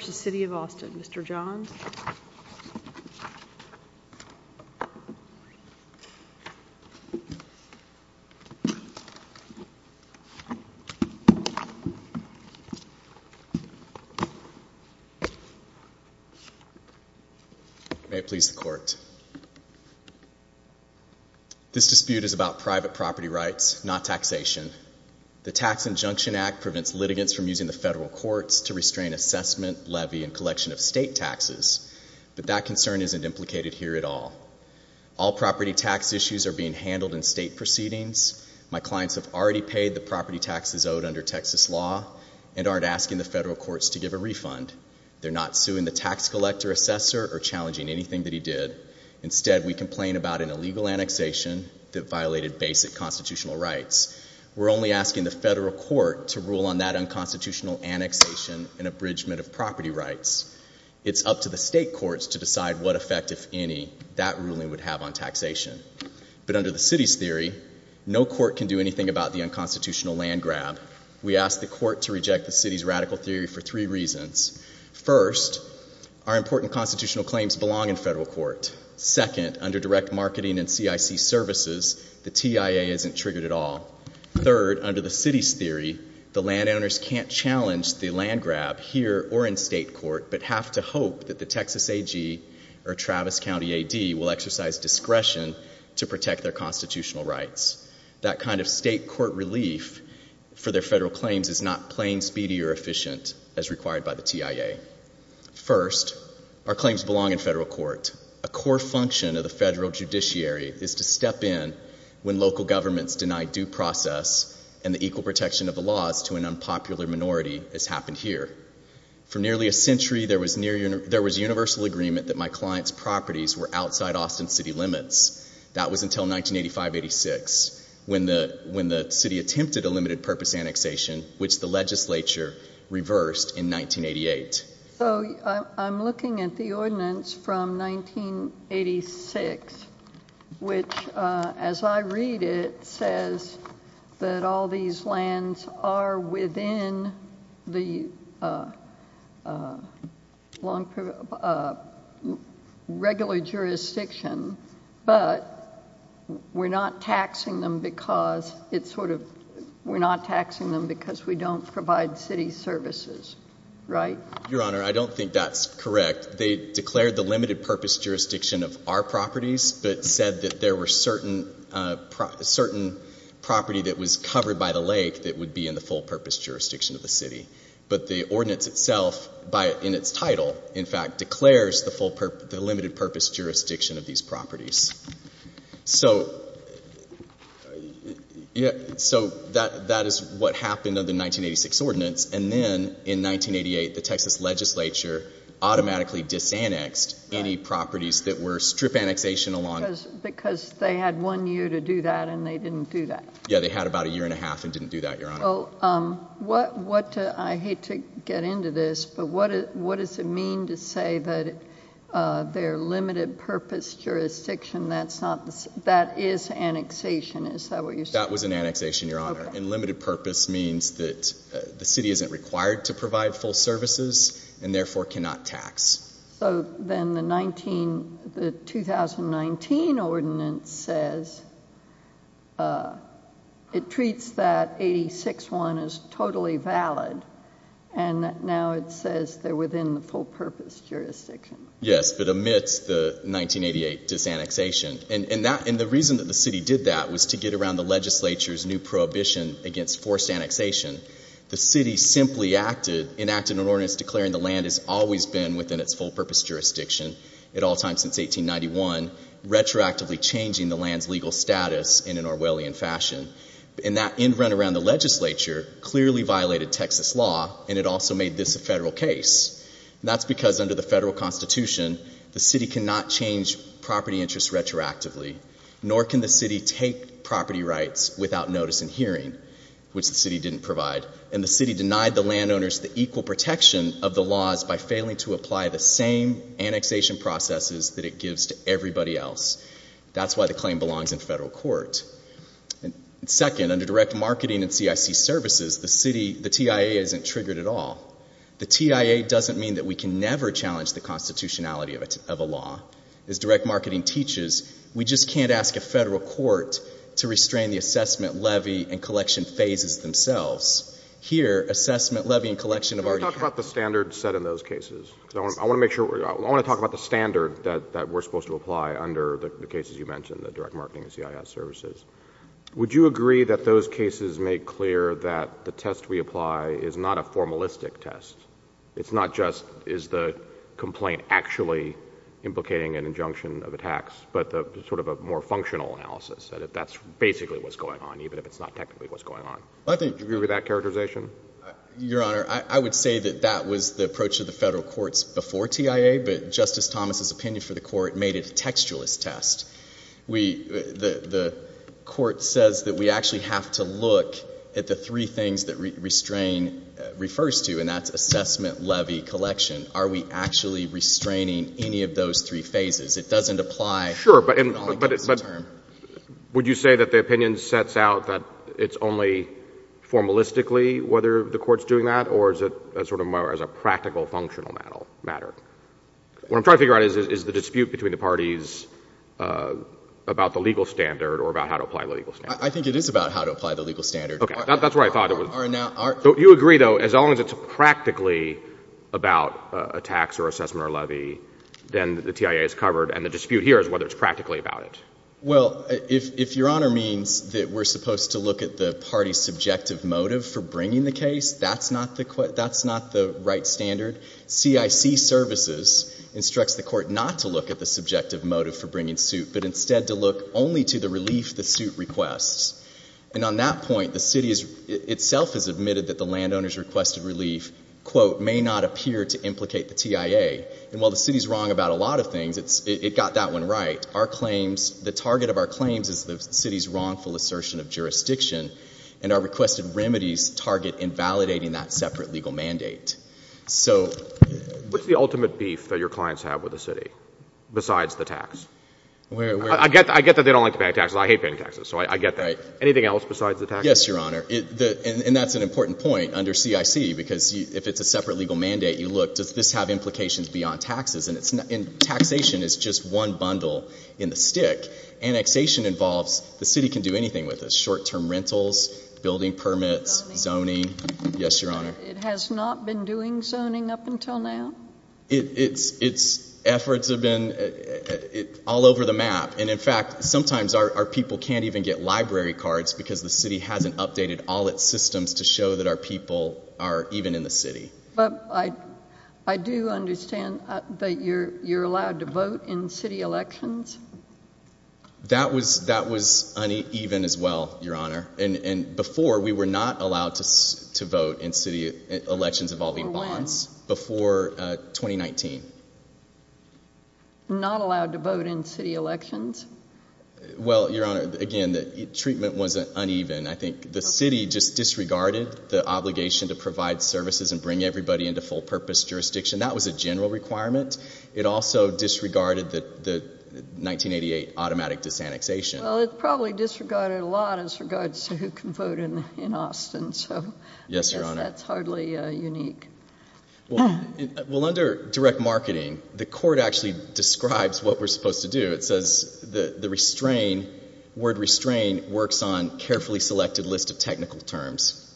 v. City of Austin, Mr. Johns. May it please the Court. This dispute is about private property rights, not taxation. The Tax Injunction Act prevents litigants from using the federal courts to restrain assessment, levy, and collection of state taxes, but that concern isn't implicated here at all. All property tax issues are being handled in state proceedings. My clients have already paid the property taxes owed under Texas law and aren't asking the federal courts to give a refund. They're not suing the tax collector, assessor, or challenging anything that he did. Instead, we complain about an illegal annexation that violated basic constitutional rights. We're only asking the federal court to rule on that unconstitutional annexation and abridgment of property rights. It's up to the state courts to decide what effect, if any, that ruling would have on taxation. But under the City's theory, no court can do anything about the unconstitutional land grab. We ask the court to reject the City's radical theory for three reasons. First, our important constitutional claims belong in federal court. Second, under direct marketing and CIC services, the TIA isn't triggered at all. Third, under the City's theory, the landowners can't challenge the land grab here or in state court, but have to hope that the Texas AG or Travis County AD will exercise discretion to protect their constitutional rights. That kind of state court relief for their federal claims is not plain, speedy, or efficient as required by the TIA. First, our claims belong in federal court. A core function of the federal judiciary is to step in when local governments deny due process and the equal protection of the laws to an unpopular minority, as happened here. For nearly a century, there was universal agreement that my client's properties were outside Austin City limits. That was until 1985-86, when the City attempted a limited purpose annexation, which the legislature reversed in 1988. So, I'm looking at the ordinance from 1986, which, as I read it, says that all these lands are within the regular jurisdiction, but we're not taxing them because we don't provide City services. Right? Your Honor, I don't think that's correct. They declared the limited purpose jurisdiction of our properties, but said that there were certain property that was covered by the lake that would be in the full purpose jurisdiction of the City. But the ordinance itself, in its title, in fact, declares the limited purpose jurisdiction of these properties. So, that is what happened under the 1986 ordinance. And then, in 1988, the Texas legislature automatically disannexed any properties that were strip annexation along. Because they had one year to do that, and they didn't do that. Yeah, they had about a year and a half and didn't do that, Your Honor. So, what, I hate to get into this, but what does it mean to say that their limited purpose jurisdiction, that is annexation, is that what you're saying? That was an annexation, Your Honor. And limited purpose means that the City isn't required to provide full services, and therefore cannot tax. So, then the 2019 ordinance says, it treats that 86-1 as totally valid, and now it says they're within the full purpose jurisdiction. Yes, but amidst the 1988 disannexation. And the reason that the City did that was to get around the legislature's new prohibition against forced annexation. The City simply enacted an ordinance declaring the land has always been within its full purpose jurisdiction at all times since 1891, retroactively changing the land's legal status in an Orwellian fashion. And that, in and around the legislature, clearly violated Texas law, and it also made this a federal case. That's because under the federal constitution, the City cannot change property interests retroactively, nor can the City take property rights without notice and hearing, which the And the City denied the landowners the equal protection of the laws by failing to apply the same annexation processes that it gives to everybody else. That's why the claim belongs in federal court. Second, under direct marketing and CIC services, the City, the TIA, isn't triggered at all. The TIA doesn't mean that we can never challenge the constitutionality of a law. As direct marketing teaches, we just can't ask a federal court to restrain the assessment, levy, and collection phases themselves. Here, assessment, levy, and collection of our— Can we talk about the standard set in those cases? Because I want to make sure—I want to talk about the standard that we're supposed to apply under the cases you mentioned, the direct marketing and CIS services. Would you agree that those cases make clear that the test we apply is not a formalistic test? It's not just, is the complaint actually implicating an injunction of a tax, but sort of a more functional analysis, that that's basically what's going on, even if it's not technically what's going on? Well, I think— Do you agree with that characterization? Your Honor, I would say that that was the approach of the federal courts before TIA, but Justice Thomas's opinion for the court made it a textualist test. The court says that we actually have to look at the three things that restrain refers to, and that's assessment, levy, collection. Are we actually restraining any of those three phases? It doesn't apply— Sure, but would you say that the opinion sets out that it's only formalistically whether the court's doing that, or is it sort of more as a practical, functional matter? What I'm trying to figure out is, is the dispute between the parties about the legal standard or about how to apply the legal standard. I think it is about how to apply the legal standard. Okay. That's what I thought it was. You agree, though, as long as it's practically about a tax or assessment or levy, then the court's practically about it. Well, if Your Honor means that we're supposed to look at the party's subjective motive for bringing the case, that's not the right standard. CIC services instructs the court not to look at the subjective motive for bringing suit, but instead to look only to the relief the suit requests. And on that point, the city itself has admitted that the landowner's request of relief, quote, may not appear to implicate the TIA, and while the city's wrong about a lot of our claims, the target of our claims is the city's wrongful assertion of jurisdiction, and our requested remedies target invalidating that separate legal mandate. So — What's the ultimate beef that your clients have with the city, besides the tax? Where — I get that they don't like to pay taxes. I hate paying taxes. So I get that. Right. Anything else besides the tax? Yes, Your Honor. And that's an important point under CIC, because if it's a separate legal mandate, you look, does this have implications beyond taxes? And it's not — and taxation is just one bundle in the stick. Annexation involves — the city can do anything with this, short-term rentals, building permits, zoning — Zoning. Yes, Your Honor. It has not been doing zoning up until now? Its efforts have been all over the map. And in fact, sometimes our people can't even get library cards because the city hasn't updated all its systems to show that our people are even in the city. But I do understand that you're allowed to vote in city elections? That was uneven as well, Your Honor. And before, we were not allowed to vote in city elections involving bonds. Before when? Before 2019. Not allowed to vote in city elections? Well, Your Honor, again, the treatment was uneven. I think the city just disregarded the obligation to provide services and bring everybody into full-purpose jurisdiction. That was a general requirement. It also disregarded the 1988 automatic disannexation. Well, it probably disregarded a lot as regards to who can vote in Austin. So — Yes, Your Honor. That's hardly unique. Well, under direct marketing, the court actually describes what we're supposed to do. It says the word restrain works on carefully selected list of technical terms,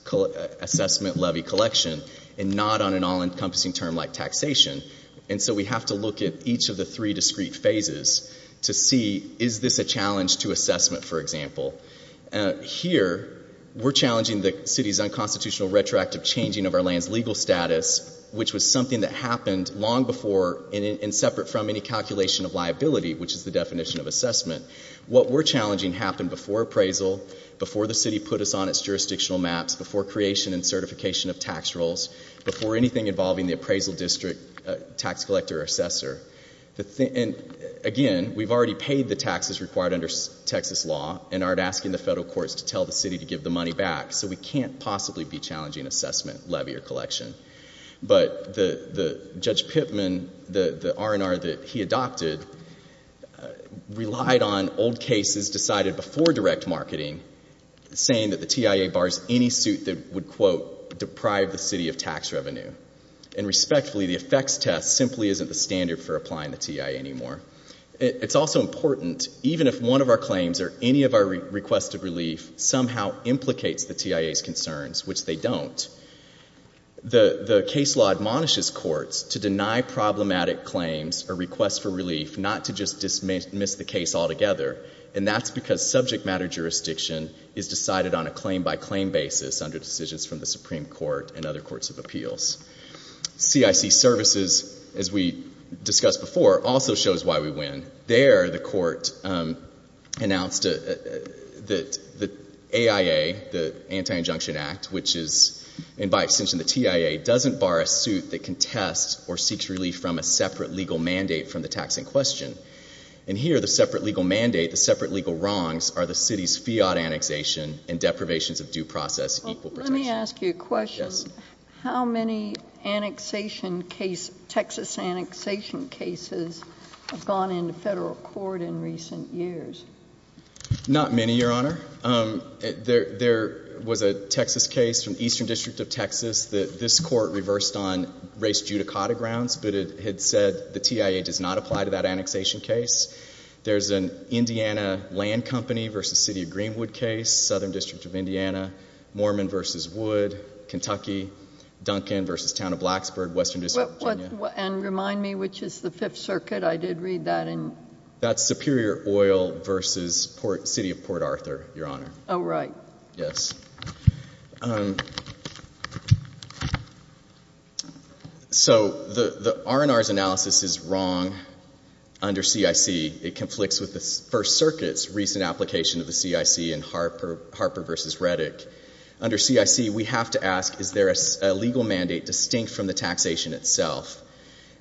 assessment, levy, collection, and not on an all-encompassing term like taxation. And so we have to look at each of the three discrete phases to see, is this a challenge to assessment, for example? Here we're challenging the city's unconstitutional retroactive changing of our land's legal status, which was something that happened long before and separate from any calculation of liability, which is the definition of assessment. What we're challenging happened before appraisal, before the city put us on its jurisdictional maps, before creation and certification of tax rolls, before anything involving the appraisal district tax collector or assessor. And again, we've already paid the taxes required under Texas law and aren't asking the federal courts to tell the city to give the money back. So we can't possibly be challenging assessment, levy, or collection. But Judge Pittman, the R&R that he adopted, relied on old cases decided before direct marketing saying that the TIA bars any suit that would, quote, deprive the city of tax revenue. And respectfully, the effects test simply isn't the standard for applying the TIA anymore. It's also important, even if one of our claims or any of our requests of relief somehow implicates the TIA's concerns, which they don't, the case law admonishes courts to deny problematic claims or requests for relief, not to just dismiss the case altogether. And that's because subject matter jurisdiction is decided on a claim-by-claim basis under decisions from the Supreme Court and other courts of appeals. CIC services, as we discussed before, also shows why we win. There, the court announced that the AIA, the Anti-Injunction Act, which is, and by extension, the TIA, doesn't bar a suit that contests or seeks relief from a separate legal mandate from the tax in question. And here, the separate legal mandate, the separate legal wrongs, are the city's fiat annexation and deprivations of due process equal protection. Let me ask you a question. Yes. How many annexation case, Texas annexation cases have gone into federal court in recent years? Not many, Your Honor. There was a Texas case from Eastern District of Texas that this court reversed on race judicata grounds, but it had said the TIA does not apply to that annexation case. There's an Indiana Land Company versus City of Greenwood case, Southern District of Indiana, Mormon versus Wood, Kentucky, Duncan versus Town of Blacksburg, Western District of Virginia. And remind me which is the Fifth Circuit. I did read that in... That's Superior Oil versus City of Port Arthur, Your Honor. Oh, right. Yes. So, the R&R's analysis is wrong under CIC. It conflicts with the First Circuit's recent application of the CIC in Harper versus Reddick. Under CIC, we have to ask, is there a legal mandate distinct from the taxation itself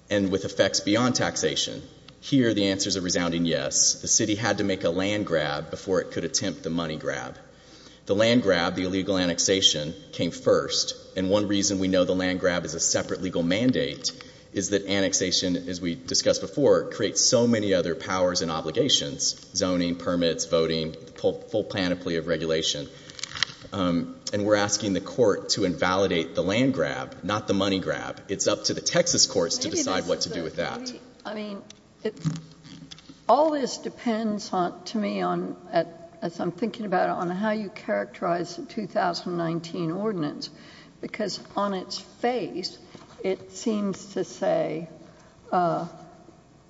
and with effects beyond taxation? Here, the answers are resounding yes. The city had to make a land grab before it could attempt the money grab. The land grab, the illegal annexation, came first. And one reason we know the land grab is a separate legal mandate is that annexation, as we discussed before, creates so many other powers and obligations, zoning, permits, voting, full panoply of regulation. And we're asking the court to invalidate the land grab, not the money grab. It's up to the Texas courts to decide what to do with that. All this depends, to me, as I'm thinking about it, on how you characterize the 2019 ordinance because on its face, it seems to say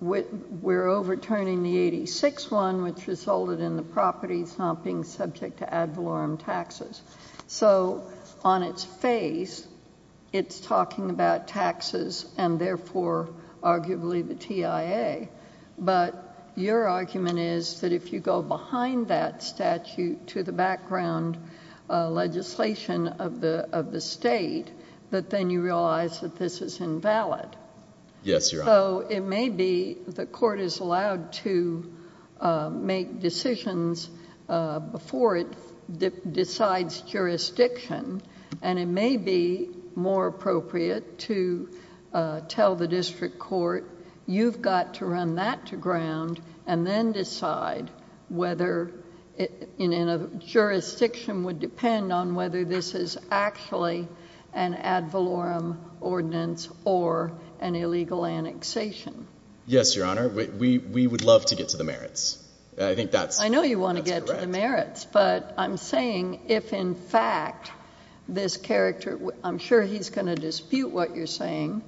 we're overturning the 86 one, which resulted in the property not being subject to ad valorem taxes. So, on its face, it's talking about taxes and therefore, arguably, the TIA. But your argument is that if you go behind that statute to the background legislation of the state, that then you realize that this is invalid. So, it may be the court is allowed to make decisions before it decides jurisdiction and it may be more appropriate to tell the district court, you've got to run that to ground and then decide whether in a jurisdiction would depend on whether this is actually an ad valorem ordinance or an illegal annexation. Yes, your honor. We would love to get to the merits. I think that's correct. I know you want to get to the merits, but I'm saying if in fact this character, I'm sure he's going to dispute what you're saying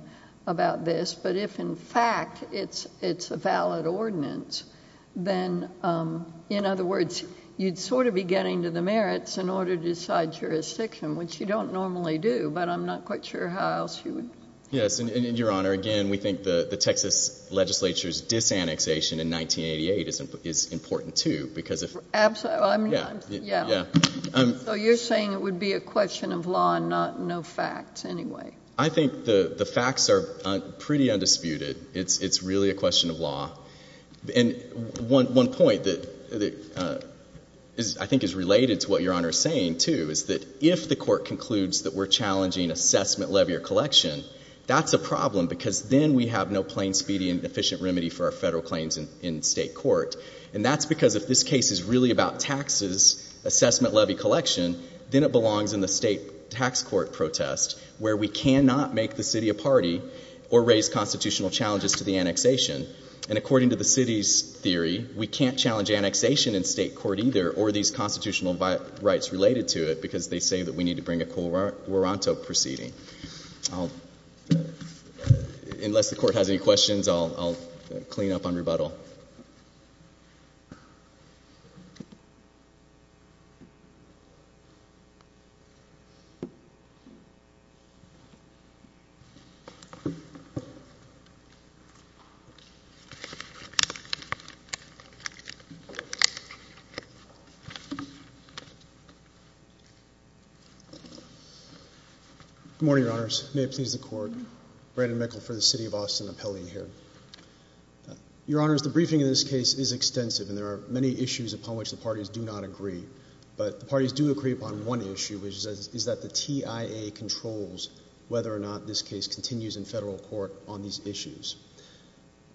about this, but if in fact it's a valid ordinance, then in other words, you'd sort of be getting to the merits in order to decide jurisdiction, which you don't normally do, but I'm not quite sure how else you would. Yes, and your honor, again, we think the Texas legislature's disannexation in 1988 is important too, because if. Absolutely, I mean, yeah, yeah. So, you're saying it would be a question of law and no facts anyway. I think the facts are pretty undisputed. It's really a question of law. And one point that I think is related to what your honor is saying too is that if the court concludes that we're challenging assessment, levy, or collection, that's a problem because then we have no plain, speedy, and efficient remedy for our federal claims in state court. And that's because if this case is really about taxes, assessment, levy, collection, then it belongs in the state tax court protest where we cannot make the city a party or raise constitutional challenges to the annexation. And according to the city's theory, we can't challenge annexation in state court either or these constitutional rights related to it, because they say that we need to bring a Colorado proceeding. Unless the court has any questions, I'll clean up on rebuttal. Thank you. Good morning, your honors. May it please the court. Brandon Mickel for the City of Austin Appellee here. Your honors, the briefing in this case is extensive and there are many issues upon which the parties do not agree. But the parties do agree upon one issue, which is that the TIA controls whether or not this case continues in federal court on these issues.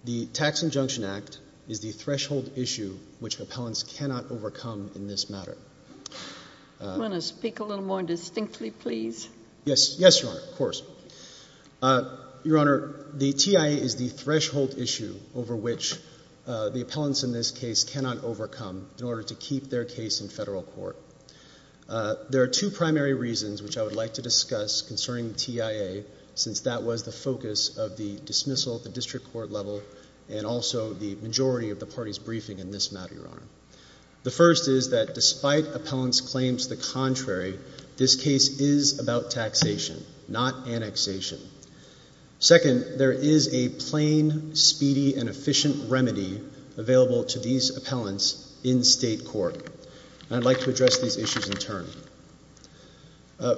The Tax Injunction Act is the threshold issue which appellants cannot overcome in this matter. I want to speak a little more distinctly, please. Yes, your honor, of course. Your honor, the TIA is the threshold issue over which the appellants in this case cannot overcome in order to keep their case in federal court. There are two primary reasons which I would like to discuss concerning TIA since that was the focus of the dismissal at the district court level and also the majority of the parties' briefing in this matter, your honor. The first is that despite appellants' claims the contrary, this case is about taxation, not annexation. Second, there is a plain, speedy, and efficient remedy available to these appellants in state court. And I'd like to address these issues in turn.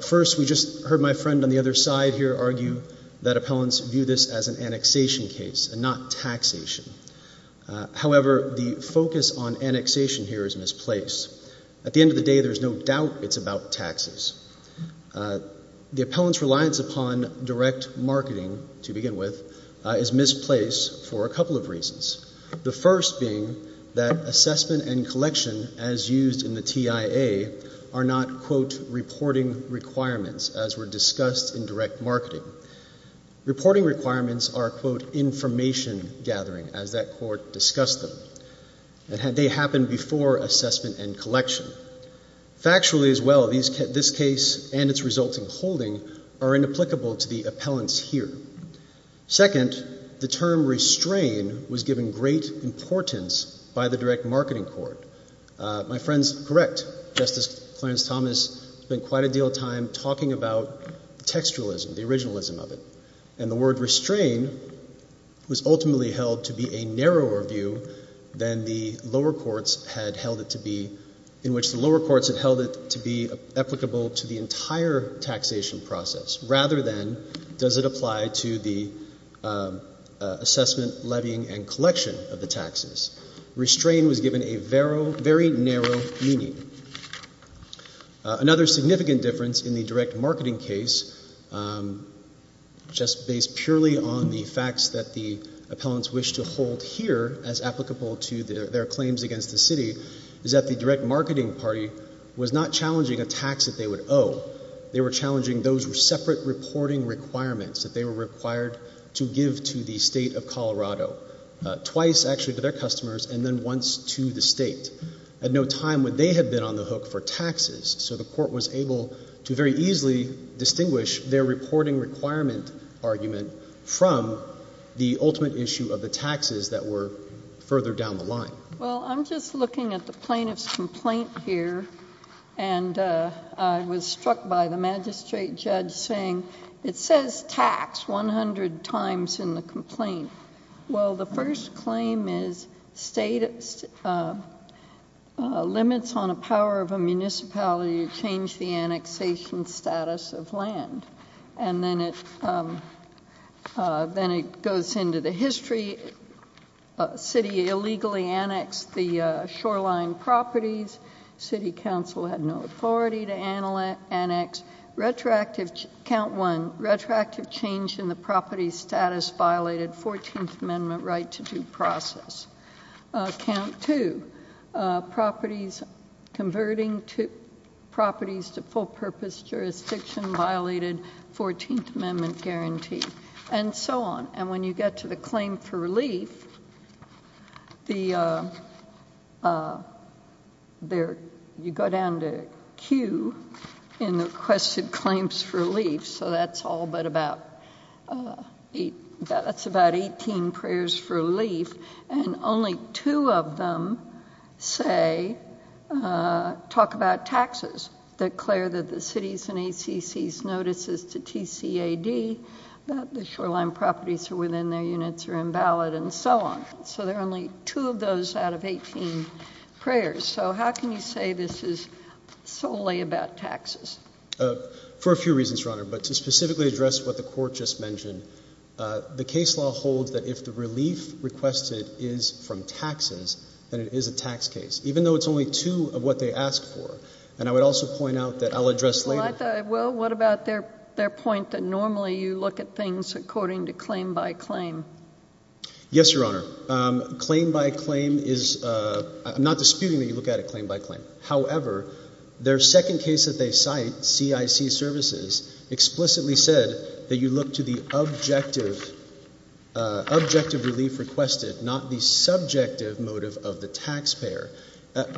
First, we just heard my friend on the other side here argue that appellants view this as an annexation case and not taxation. However, the focus on annexation here is misplaced. At the end of the day, there's no doubt it's about taxes. The appellants' reliance upon direct marketing, to begin with, is misplaced for a couple of reasons. The first being that assessment and collection, as used in the TIA, are not, quote, reporting requirements as were discussed in direct marketing. Reporting requirements are, quote, information gathering, as that court discussed them. They happened before assessment and collection. Factually as well, this case and its resulting holding are inapplicable to the appellants here. Second, the term restrain was given great importance by the direct marketing court. My friend's correct, Justice Clarence Thomas spent quite a deal of time talking about textualism, the originalism of it. And the word restrain was ultimately held to be a narrower view than the lower courts had held it to be, in which the lower courts had held it to be applicable to the entire taxation process, rather than does it apply to the assessment, levying, and collection of the taxes. Restrain was given a very narrow meaning. Another significant difference in the direct marketing case, just based purely on the facts that the appellants wish to hold here as applicable to their claims against the city, is that the direct marketing party was not challenging a tax that they would owe. They were challenging those separate reporting requirements that they were required to give to the state of Colorado, twice actually to their customers and then once to the state. At no time would they have been on the hook for taxes, so the court was able to very easily distinguish their reporting requirement argument from the ultimate issue Well, I'm just looking at the plaintiff's complaint here and I was struck by the magistrate judge saying it says tax 100 times in the complaint. Well, the first claim is limits on a power of a municipality to change the annexation status of land. And then it goes into the history. City illegally annexed the shoreline properties. City council had no authority to annex. Retroactive, count one, retroactive change in the property status violated 14th Amendment right to due process. Count two, properties converting to properties to full purpose jurisdiction violated 14th Amendment guarantee and so on. And when you get to the claim for relief, you go down to Q in the requested claims for relief, so that's all but about, that's about 18 prayers for relief and only two of them say, talk about taxes, declare that the city's and ACC's notice is to TCAD that the shoreline properties within their units are invalid and so on. So there are only two of those out of 18 prayers. So how can you say this is solely about taxes? For a few reasons, Your Honor, but to specifically address what the court just mentioned, the case law holds that if the relief requested is from taxes, then it is a tax case. Even though it's only two of what they asked for. And I would also point out that I'll address later. Well, what about their point that normally you look at things according to claim by claim? Yes, Your Honor. Claim by claim is, I'm not disputing that you look at it claim by claim. However, their second case that they cite, CIC Services, explicitly said that you look to the objective relief requested, not the subjective motive of the taxpayer.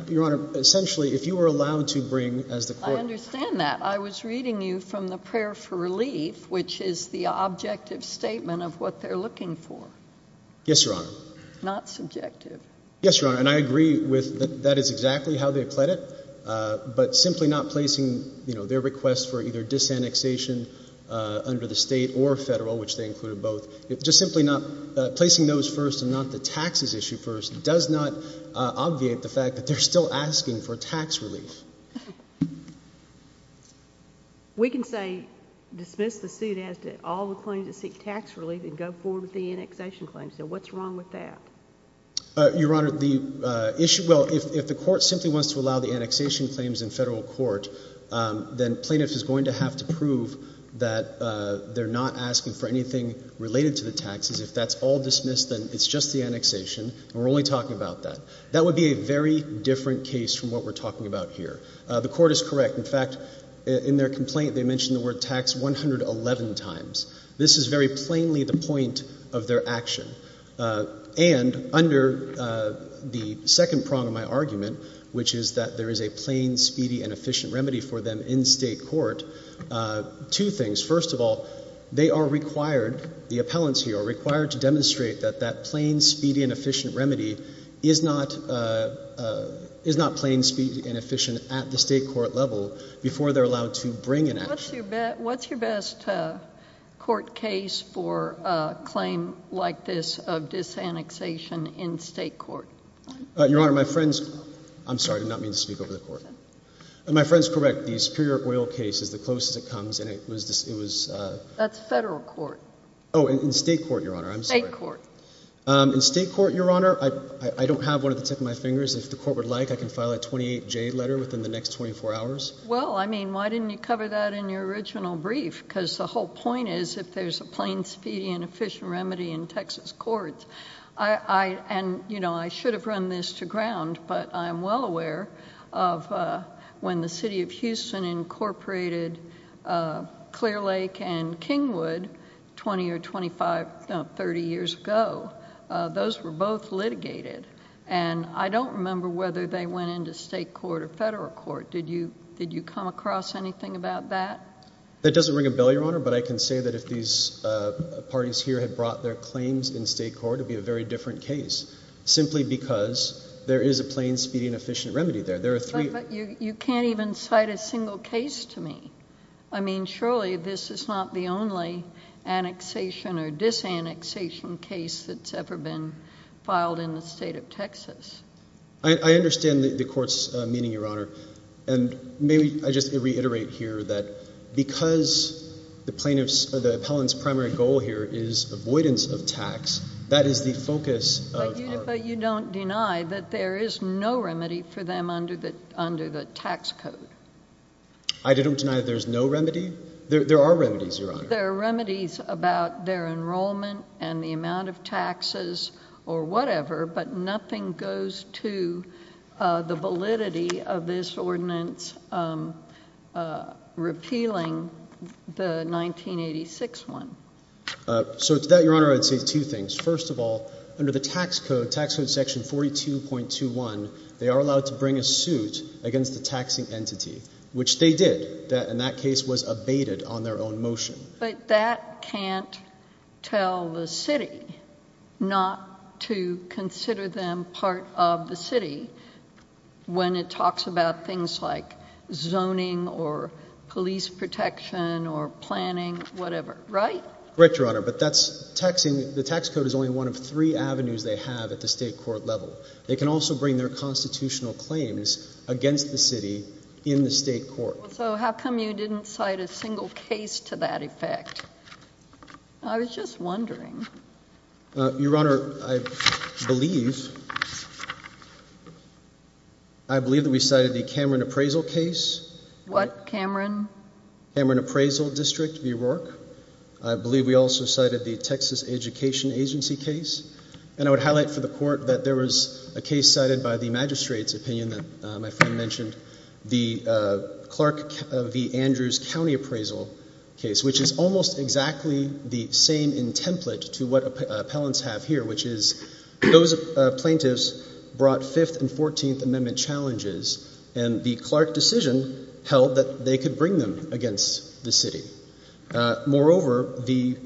Your Honor, essentially, if you were allowed to bring as the court. I understand that. I was reading you from the prayer for relief, which is the objective statement of what they're looking for. Yes, Your Honor. Not subjective. Yes, Your Honor. And I agree with that is exactly how they pled it, but simply not placing, you know, their request for either disannexation under the state or federal, which they included both. Just simply not placing those first and not the taxes issue first does not obviate the fact that they're still asking for tax relief. We can say dismiss the suit as to all the claims that seek tax relief and go forward with the annexation claims. So what's wrong with that? Your Honor, the issue, well, if the court simply wants to allow the annexation claims in federal court, then plaintiff is going to have to prove that they're not asking for anything related to the taxes. If that's all dismissed, then it's just the annexation, and we're only talking about that. That would be a very different case from what we're talking about here. The court is correct. In fact, in their complaint, they mentioned the word tax 111 times. This is very plainly the point of their action. And under the second prong of my argument, which is that there is a plain, speedy, and efficient remedy for them in state court, two things. First of all, they are required, the appellants here are required to demonstrate that that plain, speedy, and efficient remedy is not plain, speedy, and efficient at the state court level before they're allowed to bring an action. What's your best court case for a claim like this of disannexation in state court? Your Honor, my friend's, I'm sorry, I did not mean to speak over the court. My friend's correct. The superior oil case is the closest it comes, and it was just, it was. That's federal court. Oh, in state court, Your Honor, I'm sorry. State court. In state court, Your Honor, I don't have one at the tip of my fingers. If the court would like, I can file a 28J letter within the next 24 hours. Well, I mean, why didn't you cover that in your original brief? Because the whole point is if there's a plain, speedy, and efficient remedy in Texas courts. I, and you know, I should have run this to ground, but I'm well aware of when the city of Houston incorporated Clear Lake and Kingwood 20 or 25, 30 years ago. Those were both litigated. And I don't remember whether they went into state court or federal court. Did you, did you come across anything about that? That doesn't ring a bell, Your Honor, but I can say that if these parties here had brought their claims in state court, it would be a very different case, simply because there is a plain, speedy, and efficient remedy there. There are three. But you can't even cite a single case to me. I mean, surely this is not the only annexation or disannexation case that's ever been filed in the state of Texas. I understand the court's meaning, Your Honor. And maybe I just reiterate here that because the plaintiff's, the appellant's primary goal here is avoidance of tax, that is the focus of our. But you don't deny that there is no remedy for them under the, under the tax code? I don't deny that there's no remedy. There are remedies, Your Honor. There are remedies about their enrollment and the amount of taxes or whatever, but nothing goes to the validity of this ordinance repealing the 1986 one. So to that, Your Honor, I'd say two things. First of all, under the tax code, tax code section 42.21, they are allowed to bring a suit against the taxing entity, which they did. That, in that case, was abated on their own motion. But that can't tell the city not to consider them part of the city when it talks about things like zoning or police protection or planning, whatever, right? Right, Your Honor. But that's taxing, the tax code is only one of three avenues they have at the state court level. They can also bring their constitutional claims against the city in the state court. So how come you didn't cite a single case to that effect? I was just wondering. Your Honor, I believe, I believe that we cited the Cameron Appraisal case. What, Cameron? Cameron Appraisal District, V. Rourke. I believe we also cited the Texas Education Agency case. And I would highlight for the court that there was a case cited by the magistrate's opinion that my friend mentioned, the Clark v. Andrews County Appraisal case, which is almost exactly the same in template to what appellants have here, which is those plaintiffs brought 5th and 14th Amendment challenges. And the Clark decision held that they could bring them against the city. Moreover, the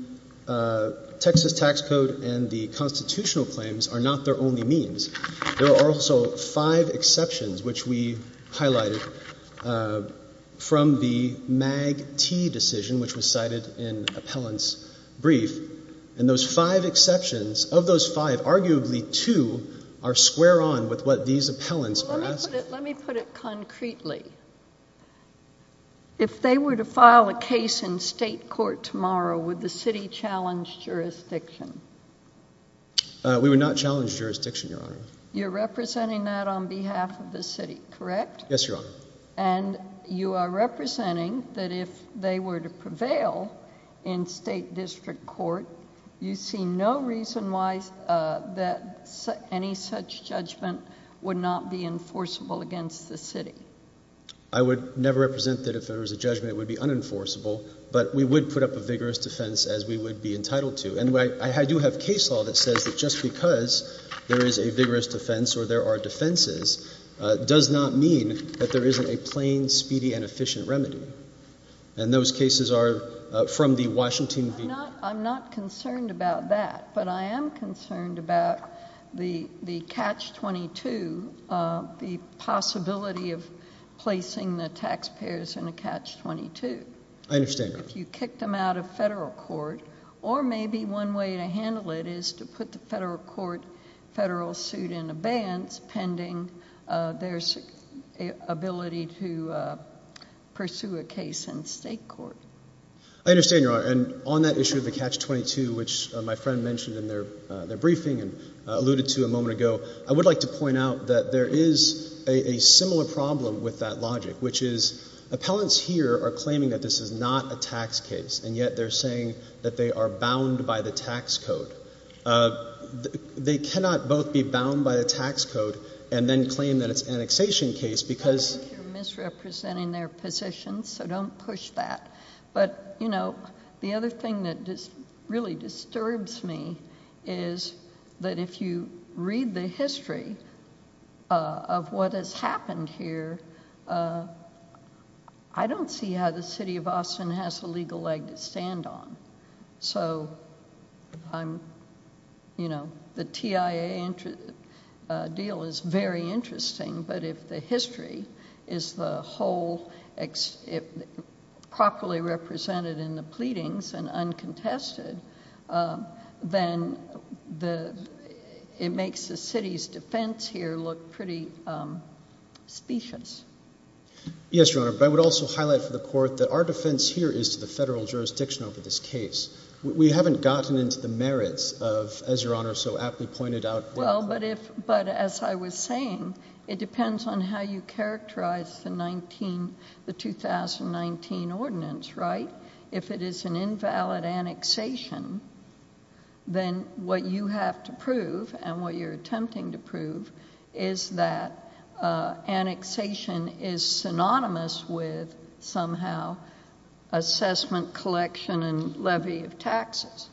Texas tax code and the constitutional claims are not their only means. There are also five exceptions, which we highlighted from the MAG-T decision, which was cited in appellant's brief. And those five exceptions, of those five, arguably two are square on with what these appellants are asking. Let me put it concretely. If they were to file a case in state court tomorrow, would the city challenge jurisdiction? We would not challenge jurisdiction, Your Honor. You're representing that on behalf of the city, correct? Yes, Your Honor. And you are representing that if they were to prevail in state district court, you see no reason why that any such judgment would not be enforceable against the city? I would never represent that if there was a judgment it would be unenforceable, but we would put up a vigorous defense as we would be entitled to. And I do have case law that says that just because there is a vigorous defense or there are defenses does not mean that there isn't a plain, speedy, and efficient remedy. And those cases are from the Washington v. I'm not concerned about that, but I am concerned about the catch-22, the possibility of placing the taxpayers in a catch-22. I understand, Your Honor. If you kicked them out of federal court, or maybe one way to handle it is to put the federal court, federal suit in abeyance pending their ability to pursue a case in state court. I understand, Your Honor. And on that issue of the catch-22, which my friend mentioned in their briefing and alluded to a moment ago, I would like to point out that there is a similar problem with that logic, which is appellants here are claiming that this is not a tax case, and yet they're saying that they are bound by the tax code. They cannot both be bound by the tax code and then claim that it's an annexation case because I think you're misrepresenting their position, so don't push that. But, you know, the other thing that really disturbs me is that if you read the history of what has happened here, I don't see how the city of Austin has a legal leg to stand on. So, you know, the TIA deal is very interesting, but if the history is the whole... properly represented in the pleadings and uncontested, then it makes the city's defense here look pretty specious. Yes, Your Honor, but I would also highlight for the court that our defense here is to the federal jurisdiction over this case. We haven't gotten into the merits of, as Your Honor so aptly pointed out... Well, but as I was saying, it depends on how you characterize the 2019 ordinance, right? If it is an invalid annexation, then what you have to prove and what you're attempting to prove is that annexation is synonymous with somehow assessment collection and levy of taxes.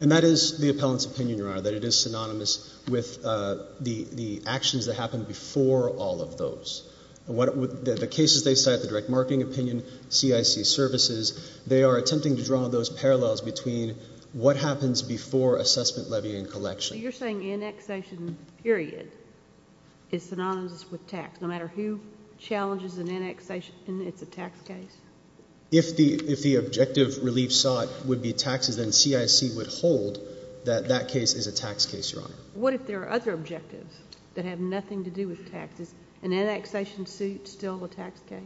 And that is the appellant's opinion, Your Honor, that it is synonymous with the actions that happened before all of those. The cases they cite, the direct marketing opinion, CIC services, they are attempting to draw those parallels between what happens before assessment levy and collection. So, you're saying annexation period is synonymous with tax, no matter who challenges an annexation and it's a tax case? If the objective relief sought would be taxes, then CIC would hold that that case is a tax case, Your Honor. What if there are other objectives that have nothing to do with taxes? An annexation suit still a tax case?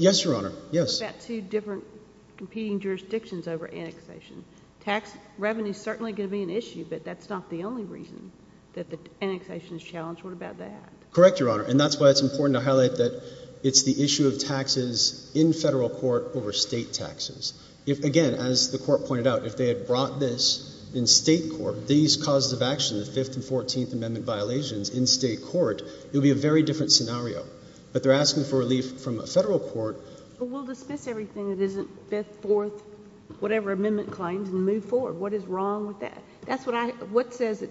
Yes, Your Honor. What about two different competing jurisdictions over annexation? Tax revenue is certainly going to be an issue, but that's not the only reason that the annexation is challenged. What about that? Correct, Your Honor. And that's why it's important to highlight that it's the issue of taxes in federal court over state taxes. If, again, as the Court pointed out, if they had brought this in state court, these causes of action, the Fifth and Fourteenth Amendment violations in state court, it would be a very different scenario. But they're asking for relief from a federal court. But we'll dismiss everything that isn't Fifth, Fourth, whatever amendment claims and move forward. What is wrong with that? That's what I, what says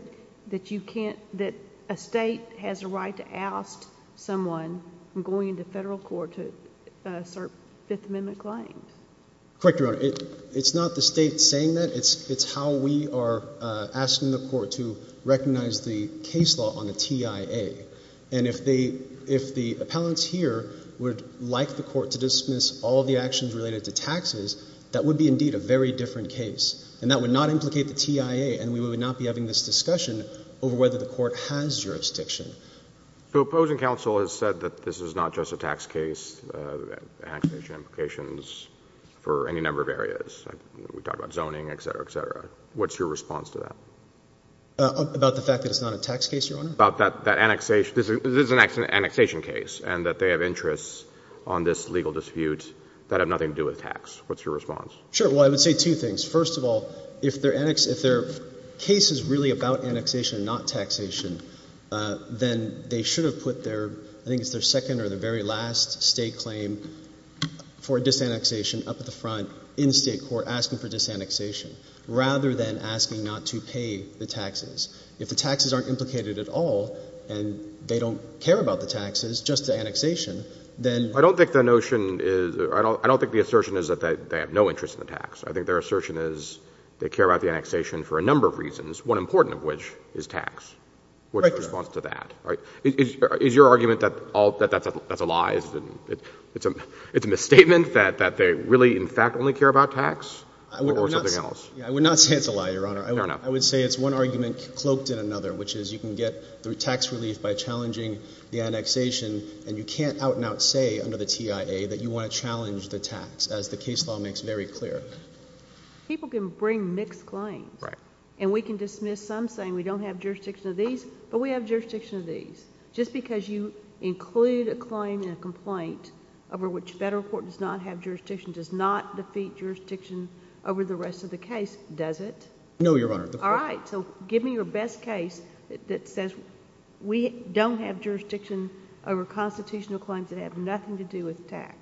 that you can't, that a state has a right to oust someone from going into federal court to assert Fifth Amendment claims? Correct, Your Honor. It's not the state saying that. It's how we are asking the court to recognize the case law on the TIA. And if the appellants here would like the court to dismiss all the actions related to taxes, that would be, indeed, a very different case. And that would not implicate the TIA, and we would not be having this discussion over whether the court has jurisdiction. So opposing counsel has said that this is not just a tax case, annexation implications for any number of areas. We talked about zoning, etc., etc. What's your response to that? About the fact that it's not a tax case, Your Honor? About that annexation, this is an annexation case, and that they have interests on this legal dispute that have nothing to do with tax. What's your response? Sure, well, I would say two things. First of all, if their case is really about annexation and not taxation, then they should have put their, I think it's their second or their very last state claim for disannexation up at the front in state court, asking for disannexation, rather than asking not to pay the taxes. If the taxes aren't implicated at all, and they don't care about the taxes, just the annexation, then I don't think the notion is, I don't think the assertion is that they have no interest in the tax. I think their assertion is they care about the annexation for a number of reasons, one important of which is tax. What's your response to that? Is your argument that that's a lie? It's a misstatement that they really, in fact, only care about tax or something else? I would not say it's a lie, Your Honor. I would say it's one argument cloaked in another, which is you can get through tax relief by challenging the annexation, and you can't out-and-out say under the TIA that you want to challenge the tax, as the case law makes very clear. People can bring mixed claims, and we can dismiss some saying we don't have jurisdiction of these, but we have jurisdiction of these. Just because you include a claim in a complaint over which federal court does not have jurisdiction does not defeat jurisdiction over the rest of the case, does it? No, Your Honor. All right, so give me your best case that says we don't have jurisdiction over constitutional claims that have nothing to do with tax.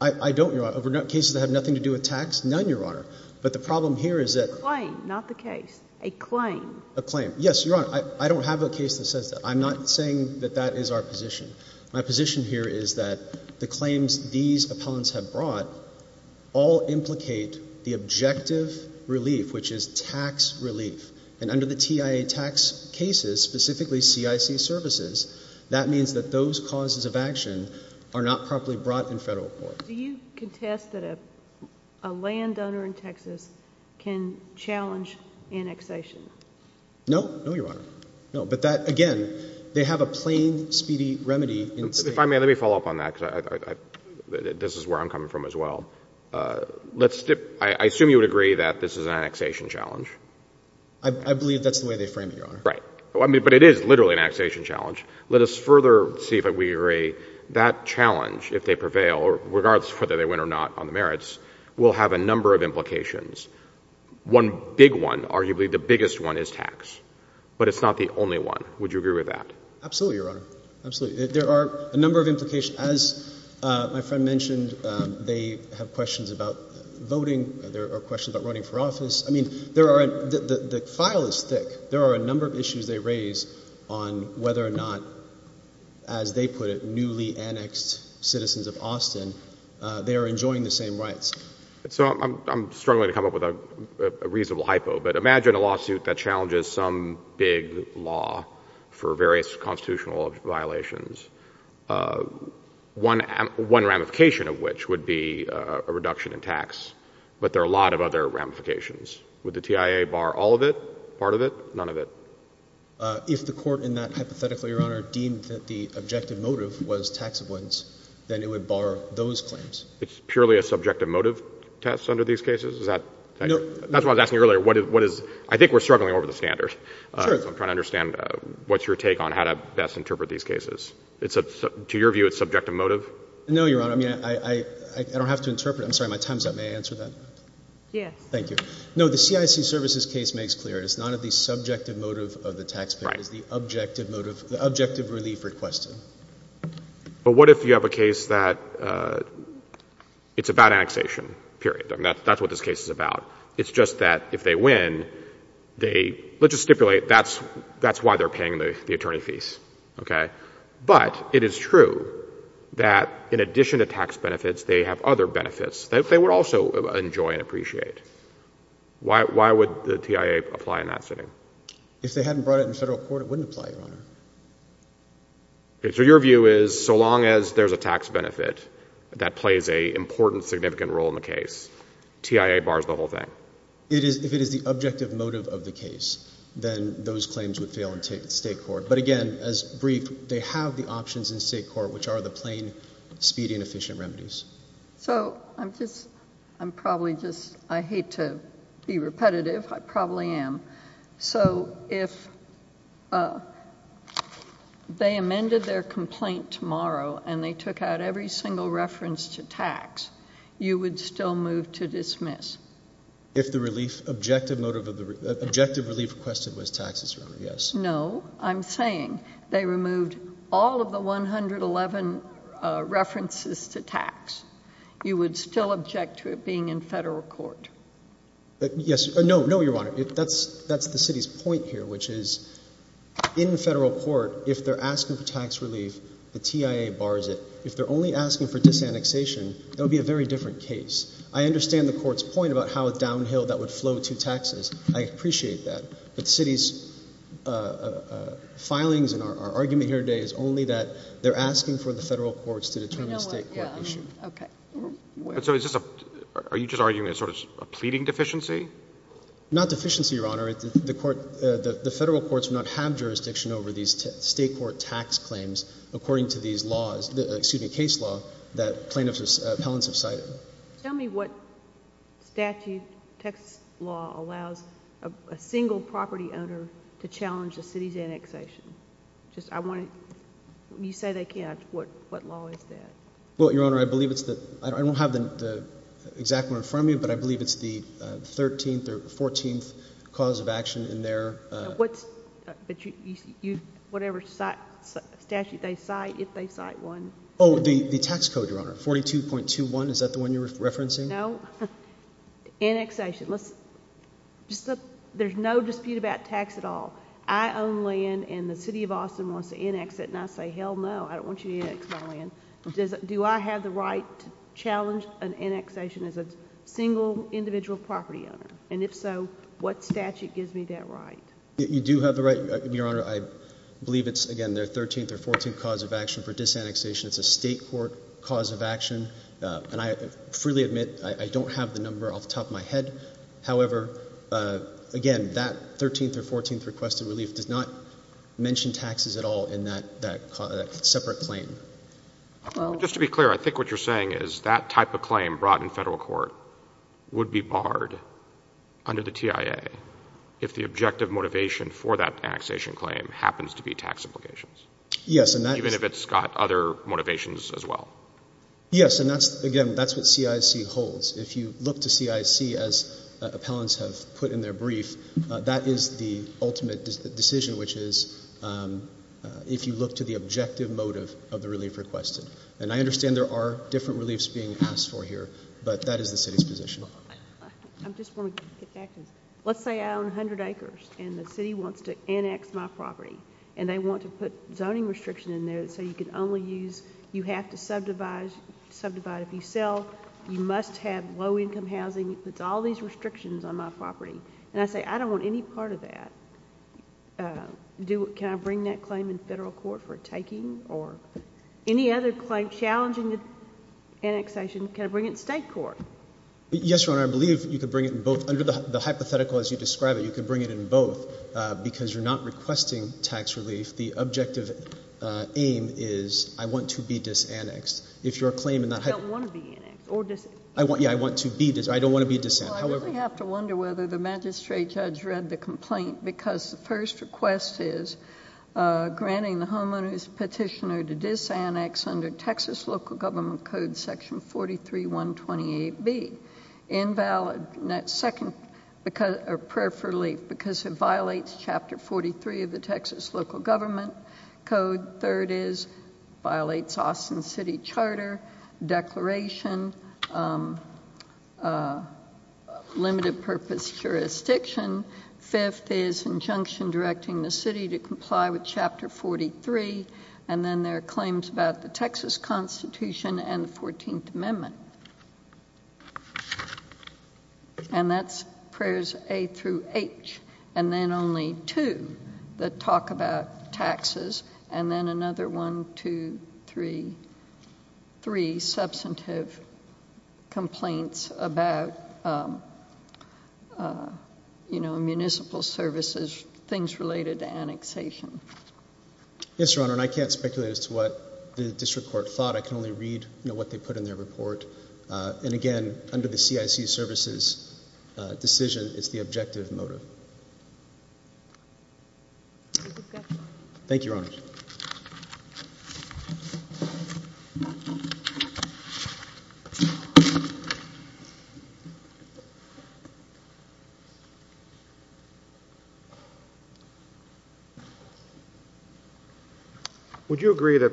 I don't, Your Honor. Over cases that have nothing to do with tax, none, Your Honor. But the problem here is that- A claim, not the case. A claim. A claim. Yes, Your Honor, I don't have a case that says that. I'm not saying that that is our position. My position here is that the claims these appellants have brought all implicate the objective relief, which is tax relief. And under the TIA tax cases, specifically CIC services, that means that those causes of action are not properly brought in federal court. Do you contest that a landowner in Texas can challenge annexation? No, no, Your Honor. No, but that, again, they have a plain, speedy remedy in state- If I may, let me follow up on that, because this is where I'm coming from as well. I assume you would agree that this is an annexation challenge? I believe that's the way they frame it, Your Honor. Right. But it is literally an annexation challenge. Let us further see if we agree that challenge, if they prevail, regardless of whether they win or not on the merits, will have a number of implications. One big one, arguably the biggest one, is tax. But it's not the only one. Would you agree with that? Absolutely, Your Honor. Absolutely. There are a number of implications. As my friend mentioned, they have questions about voting. There are questions about running for office. I mean, the file is thick. There are a number of issues they raise on whether or not, as they put it, newly annexed citizens of Austin, they are enjoying the same rights. So I'm struggling to come up with a reasonable hypo. But imagine a lawsuit that challenges some big law for various constitutional violations, one ramification of which would be a reduction in tax. But there are a lot of other ramifications. Would the TIA bar all of it, part of it, none of it? If the court in that hypothetical, Your Honor, deemed that the objective motive was tax ablutions, then it would bar those claims. It's purely a subjective motive test under these cases? Is that why I was asking earlier, I think we're struggling over the standard. So I'm trying to understand, what's your take on how to best interpret these cases? To your view, it's subjective motive? No, Your Honor, I mean, I don't have to interpret. I'm sorry, my time's up. May I answer that? Yes. Thank you. No, the CIC services case makes clear it's not of the subjective motive of the taxpayer, it's the objective motive, the objective relief requested. But what if you have a case that it's about annexation, period? I mean, that's what this case is about. It's just that if they win, they, let's just stipulate, that's why they're paying the attorney fees, okay? But it is true that in addition to tax benefits, they have other benefits that they would also enjoy and appreciate. Why would the TIA apply in that setting? If they hadn't brought it in federal court, it wouldn't apply, Your Honor. Okay, so your view is, so long as there's a tax benefit that plays a important, significant role in the case, TIA bars the whole thing? If it is the objective motive of the case, then those claims would fail in state court. But again, as briefed, they have the options in state court, which are the plain, speedy and efficient remedies. So I'm just, I'm probably just, I hate to be repetitive, I probably am. So if they amended their complaint tomorrow and they took out every single reference to tax, you would still move to dismiss? If the relief, objective motive of the, objective relief requested was taxes, Your Honor, yes. No, I'm saying they removed all of the 111 references to tax. You would still object to it being in federal court? Yes, no, no, Your Honor, that's the city's point here, which is in federal court, if they're asking for tax relief, the TIA bars it. If they're only asking for disannexation, that would be a very different case. I understand the court's point about how downhill that would flow to taxes, I appreciate that. But the city's filings in our argument here today is only that they're asking for the federal courts to determine the state court issue. Okay. So is this a, are you just arguing a sort of a pleading deficiency? Not deficiency, Your Honor, the court, the federal courts do not have jurisdiction over these state court tax claims according to these laws, excuse me, case law that plaintiffs, appellants have cited. Tell me what statute, Texas law allows a single property owner to challenge the city's annexation. Just, I want to, you say they can't, what law is that? Well, Your Honor, I believe it's the, I don't have the exact one in front of me, but I believe it's the 13th or 14th cause of action in there. What's, but you, whatever statute they cite, if they cite one. The tax code, Your Honor, 42.21, is that the one you're referencing? No, annexation, let's, there's no dispute about tax at all. I own land and the city of Austin wants to annex it, and I say hell no, I don't want you to annex my land. Do I have the right to challenge an annexation as a single individual property owner? And if so, what statute gives me that right? You do have the right, Your Honor, I believe it's, again, their 13th or 14th cause of action for disannexation. It's a state court cause of action, and I freely admit, I don't have the number off the top of my head. However, again, that 13th or 14th requested relief does not mention taxes at all in that separate claim. Just to be clear, I think what you're saying is that type of claim brought in federal court would be barred under the TIA if the objective motivation for that annexation claim happens to be tax implications. Yes, and that is- Even if it's got other motivations as well. Yes, and that's, again, that's what CIC holds. If you look to CIC as appellants have put in their brief, that is the ultimate decision, which is if you look to the objective motive of the relief requested. And I understand there are different reliefs being asked for here, but that is the city's position. I'm just going to get back to this. Let's say I own 100 acres, and the city wants to annex my property. And they want to put zoning restriction in there so you can only use, you have to subdivide. Subdivide, if you sell, you must have low-income housing. It puts all these restrictions on my property. And I say, I don't want any part of that. Can I bring that claim in federal court for taking? Or any other claim challenging the annexation, can I bring it in state court? Yes, Your Honor, I believe you can bring it in both. Under the hypothetical as you describe it, you can bring it in both because you're not requesting tax relief. The objective aim is I want to be disannexed. If you're claiming that- I don't want to be annexed or disannexed. Yeah, I want to be, I don't want to be disannexed. However- Well, I really have to wonder whether the magistrate judge read the complaint because the first request is granting the homeowner's petitioner to disannex under Texas local government code section 43-128B. Invalid, second, because, or preferably because it violates chapter 43 of the Texas local government code. Third is, violates Austin city charter, declaration, limited purpose jurisdiction. Fifth is injunction directing the city to comply with chapter 43. And then there are claims about the Texas constitution and the 14th amendment. And that's prayers A through H. And then only two that talk about taxes. And then another one, two, three, three substantive complaints about, you know, municipal services, things related to annexation. Yes, Your Honor, and I can't speculate as to what the district court thought. I can only read, you know, what they put in their report. And again, under the CIC services decision, it's the objective motive. Thank you, Your Honor. Would you agree that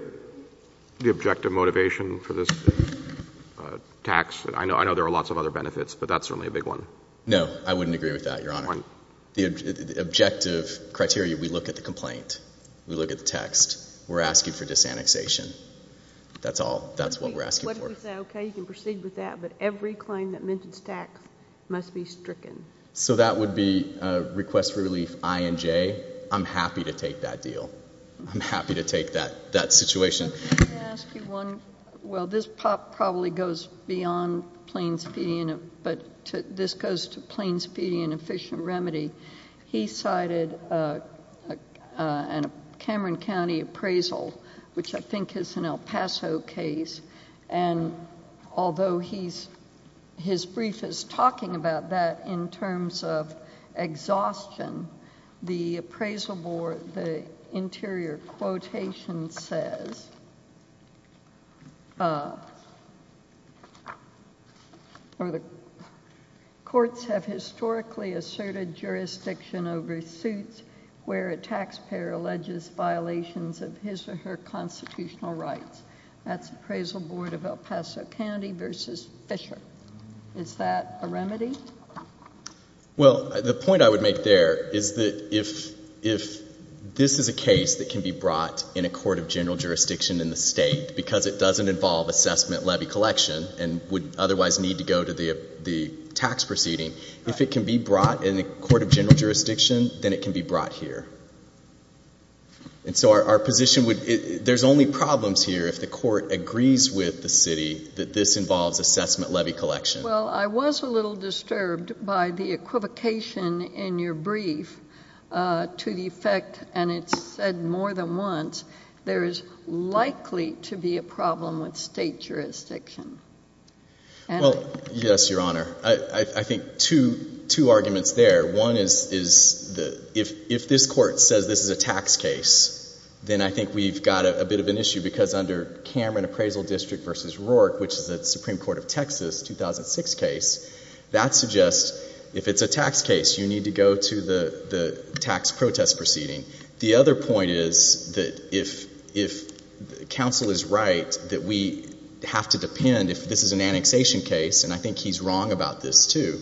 the objective motivation for this tax, I know there are lots of other benefits, but that's certainly a big one. No, I wouldn't agree with that, Your Honor. The objective criteria, we look at the complaint. We look at the text. We're asking for disannexation. That's all. That's what we're asking for. What if we say, okay, you can proceed with that, but every claim that mentions tax must be stricken? So that would be a request for relief, I and J. I'm happy to take that deal. I'm happy to take that situation. Can I ask you one, well, this probably goes beyond plain subpoena, but this goes to plain subpoena and efficient remedy. He cited a Cameron County appraisal, which I think is an El Paso case. And although his brief is talking about that in terms of exhaustion, the appraisal board, the interior quotation says, or the courts have historically asserted jurisdiction over suits where a taxpayer alleges violations of his or her constitutional rights. That's appraisal board of El Paso County versus Fisher. Is that a remedy? Well, the point I would make there is that if this is a case that can be brought in a court of general jurisdiction, in the state, because it doesn't involve assessment levy collection and would otherwise need to go to the tax proceeding, if it can be brought in a court of general jurisdiction, then it can be brought here. And so our position would, there's only problems here if the court agrees with the city that this involves assessment levy collection. Well, I was a little disturbed by the equivocation in your brief to the effect, and it said more than once, there is likely to be a problem with state jurisdiction. And? Well, yes, Your Honor. I think two arguments there. One is if this court says this is a tax case, then I think we've got a bit of an issue because under Cameron Appraisal District versus Rourke, which is the Supreme Court of Texas 2006 case, that suggests if it's a tax case, you need to go to the tax protest proceeding. The other point is that if counsel is right, that we have to depend, if this is an annexation case, and I think he's wrong about this too,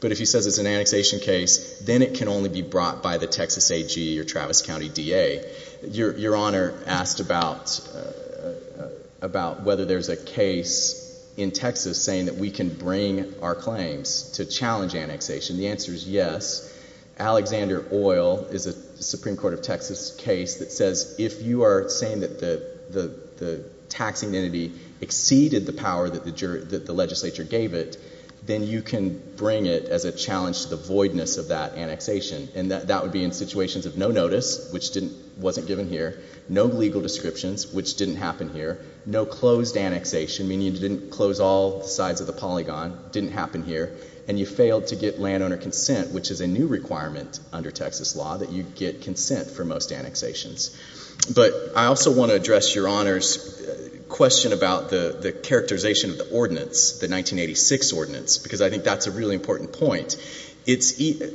but if he says it's an annexation case, then it can only be brought by the Texas AG or Travis County DA. Your Honor asked about whether there's a case in Texas saying that we can bring our claims to challenge annexation. The answer is yes. Alexander Oil is a Supreme Court of Texas case that says if you are saying that the taxing entity exceeded the power that the legislature gave it, then you can bring it as a challenge to the voidness of that annexation. And that would be in situations of no notice, which wasn't given here, no legal descriptions, which didn't happen here, no closed annexation, meaning you didn't close all sides of the polygon, didn't happen here, and you failed to get landowner consent, which is a new requirement under Texas law that you get consent for most annexations. But I also want to address Your Honor's question about the characterization of the ordinance, the 1986 ordinance, because I think that's a really important point.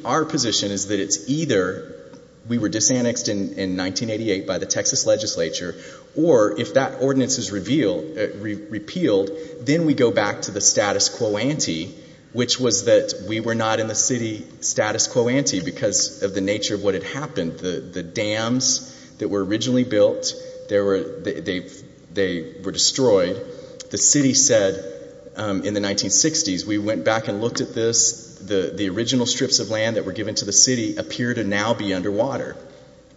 Our position is that it's either we were disannexed in 1988 by the Texas legislature, or if that ordinance is repealed, then we go back to the status quo ante, which was that we were not in the city status quo ante because of the nature of what had happened. The dams that were originally built, they were destroyed. The city said in the 1960s, we went back and looked at this, the original strips of land that were given to the city appear to now be underwater.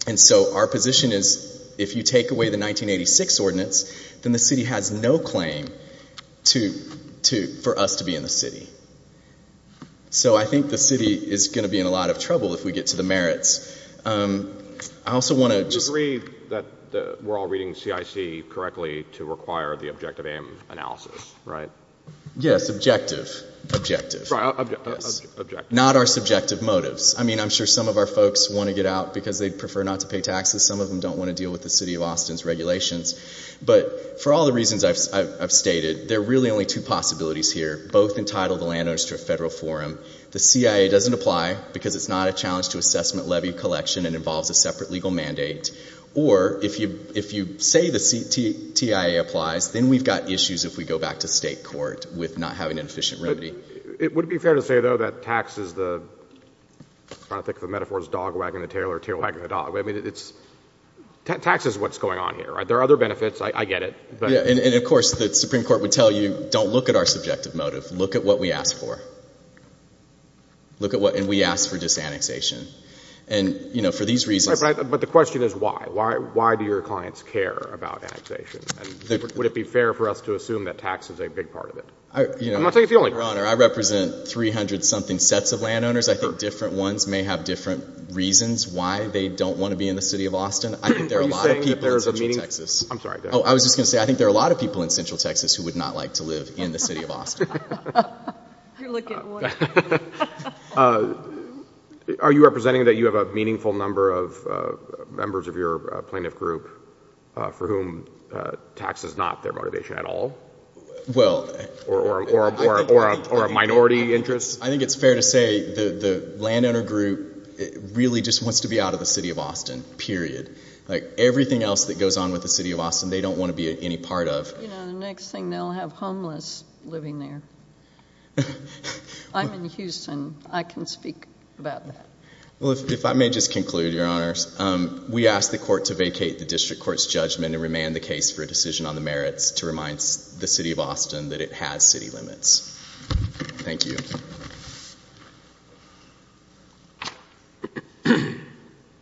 And so our position is if you take away the 1986 ordinance, then the city has no claim for us to be in the city. So I think the city is going to be in a lot of trouble if we get to the merits. I also want to just... You agree that we're all reading CIC correctly to require the objective aim analysis, right? Yes, objective, objective. Right, objective. Not our subjective motives. I mean, I'm sure some of our folks want to get out because they prefer not to pay taxes. Some of them don't want to deal with the city of Austin's regulations. But for all the reasons I've stated, there are really only two possibilities here, both entitle the landowners to a federal forum. The CIA doesn't apply because it's not a challenge to assessment, levy, collection, and involves a separate legal mandate. Or if you say the TIA applies, then we've got issues if we go back to state court with not having an efficient remedy. It would be fair to say, though, that tax is the... I'm trying to think of the metaphors, dog wagging the tail or tail wagging the dog. I mean, it's... Tax is what's going on here, right? There are other benefits. I get it. And of course, the Supreme Court would tell you, don't look at our subjective motive. Look at what we ask for. Look at what... And we ask for disannexation. And, you know, for these reasons... But the question is why? Why do your clients care about annexation? Would it be fair for us to assume that tax is a big part of it? I'm not saying it's the only... Your Honor, I represent 300-something sets of landowners. I think different ones may have different reasons why they don't want to be in the city of Austin. I think there are a lot of people in Central Texas... Are you saying that there's a meaningful... I'm sorry, go ahead. Oh, I was just going to say, I think there are a lot of people in Central Texas who would not like to live in the city of Austin. Are you representing that you have a meaningful number of members of your plaintiff group for whom tax is not their motivation at all or a minority interest? I think it's fair to say the landowner group really just wants to be out of the city of Like, everything else that goes on with the city of Austin, they don't want to be any part of. You know, the next thing, they'll have homeless living there. I'm in Houston. I can speak about that. Well, if I may just conclude, Your Honor. We ask the court to vacate the district court's judgment and remand the case for a decision on the merits to remind the city of Austin that it has city limits. Thank you.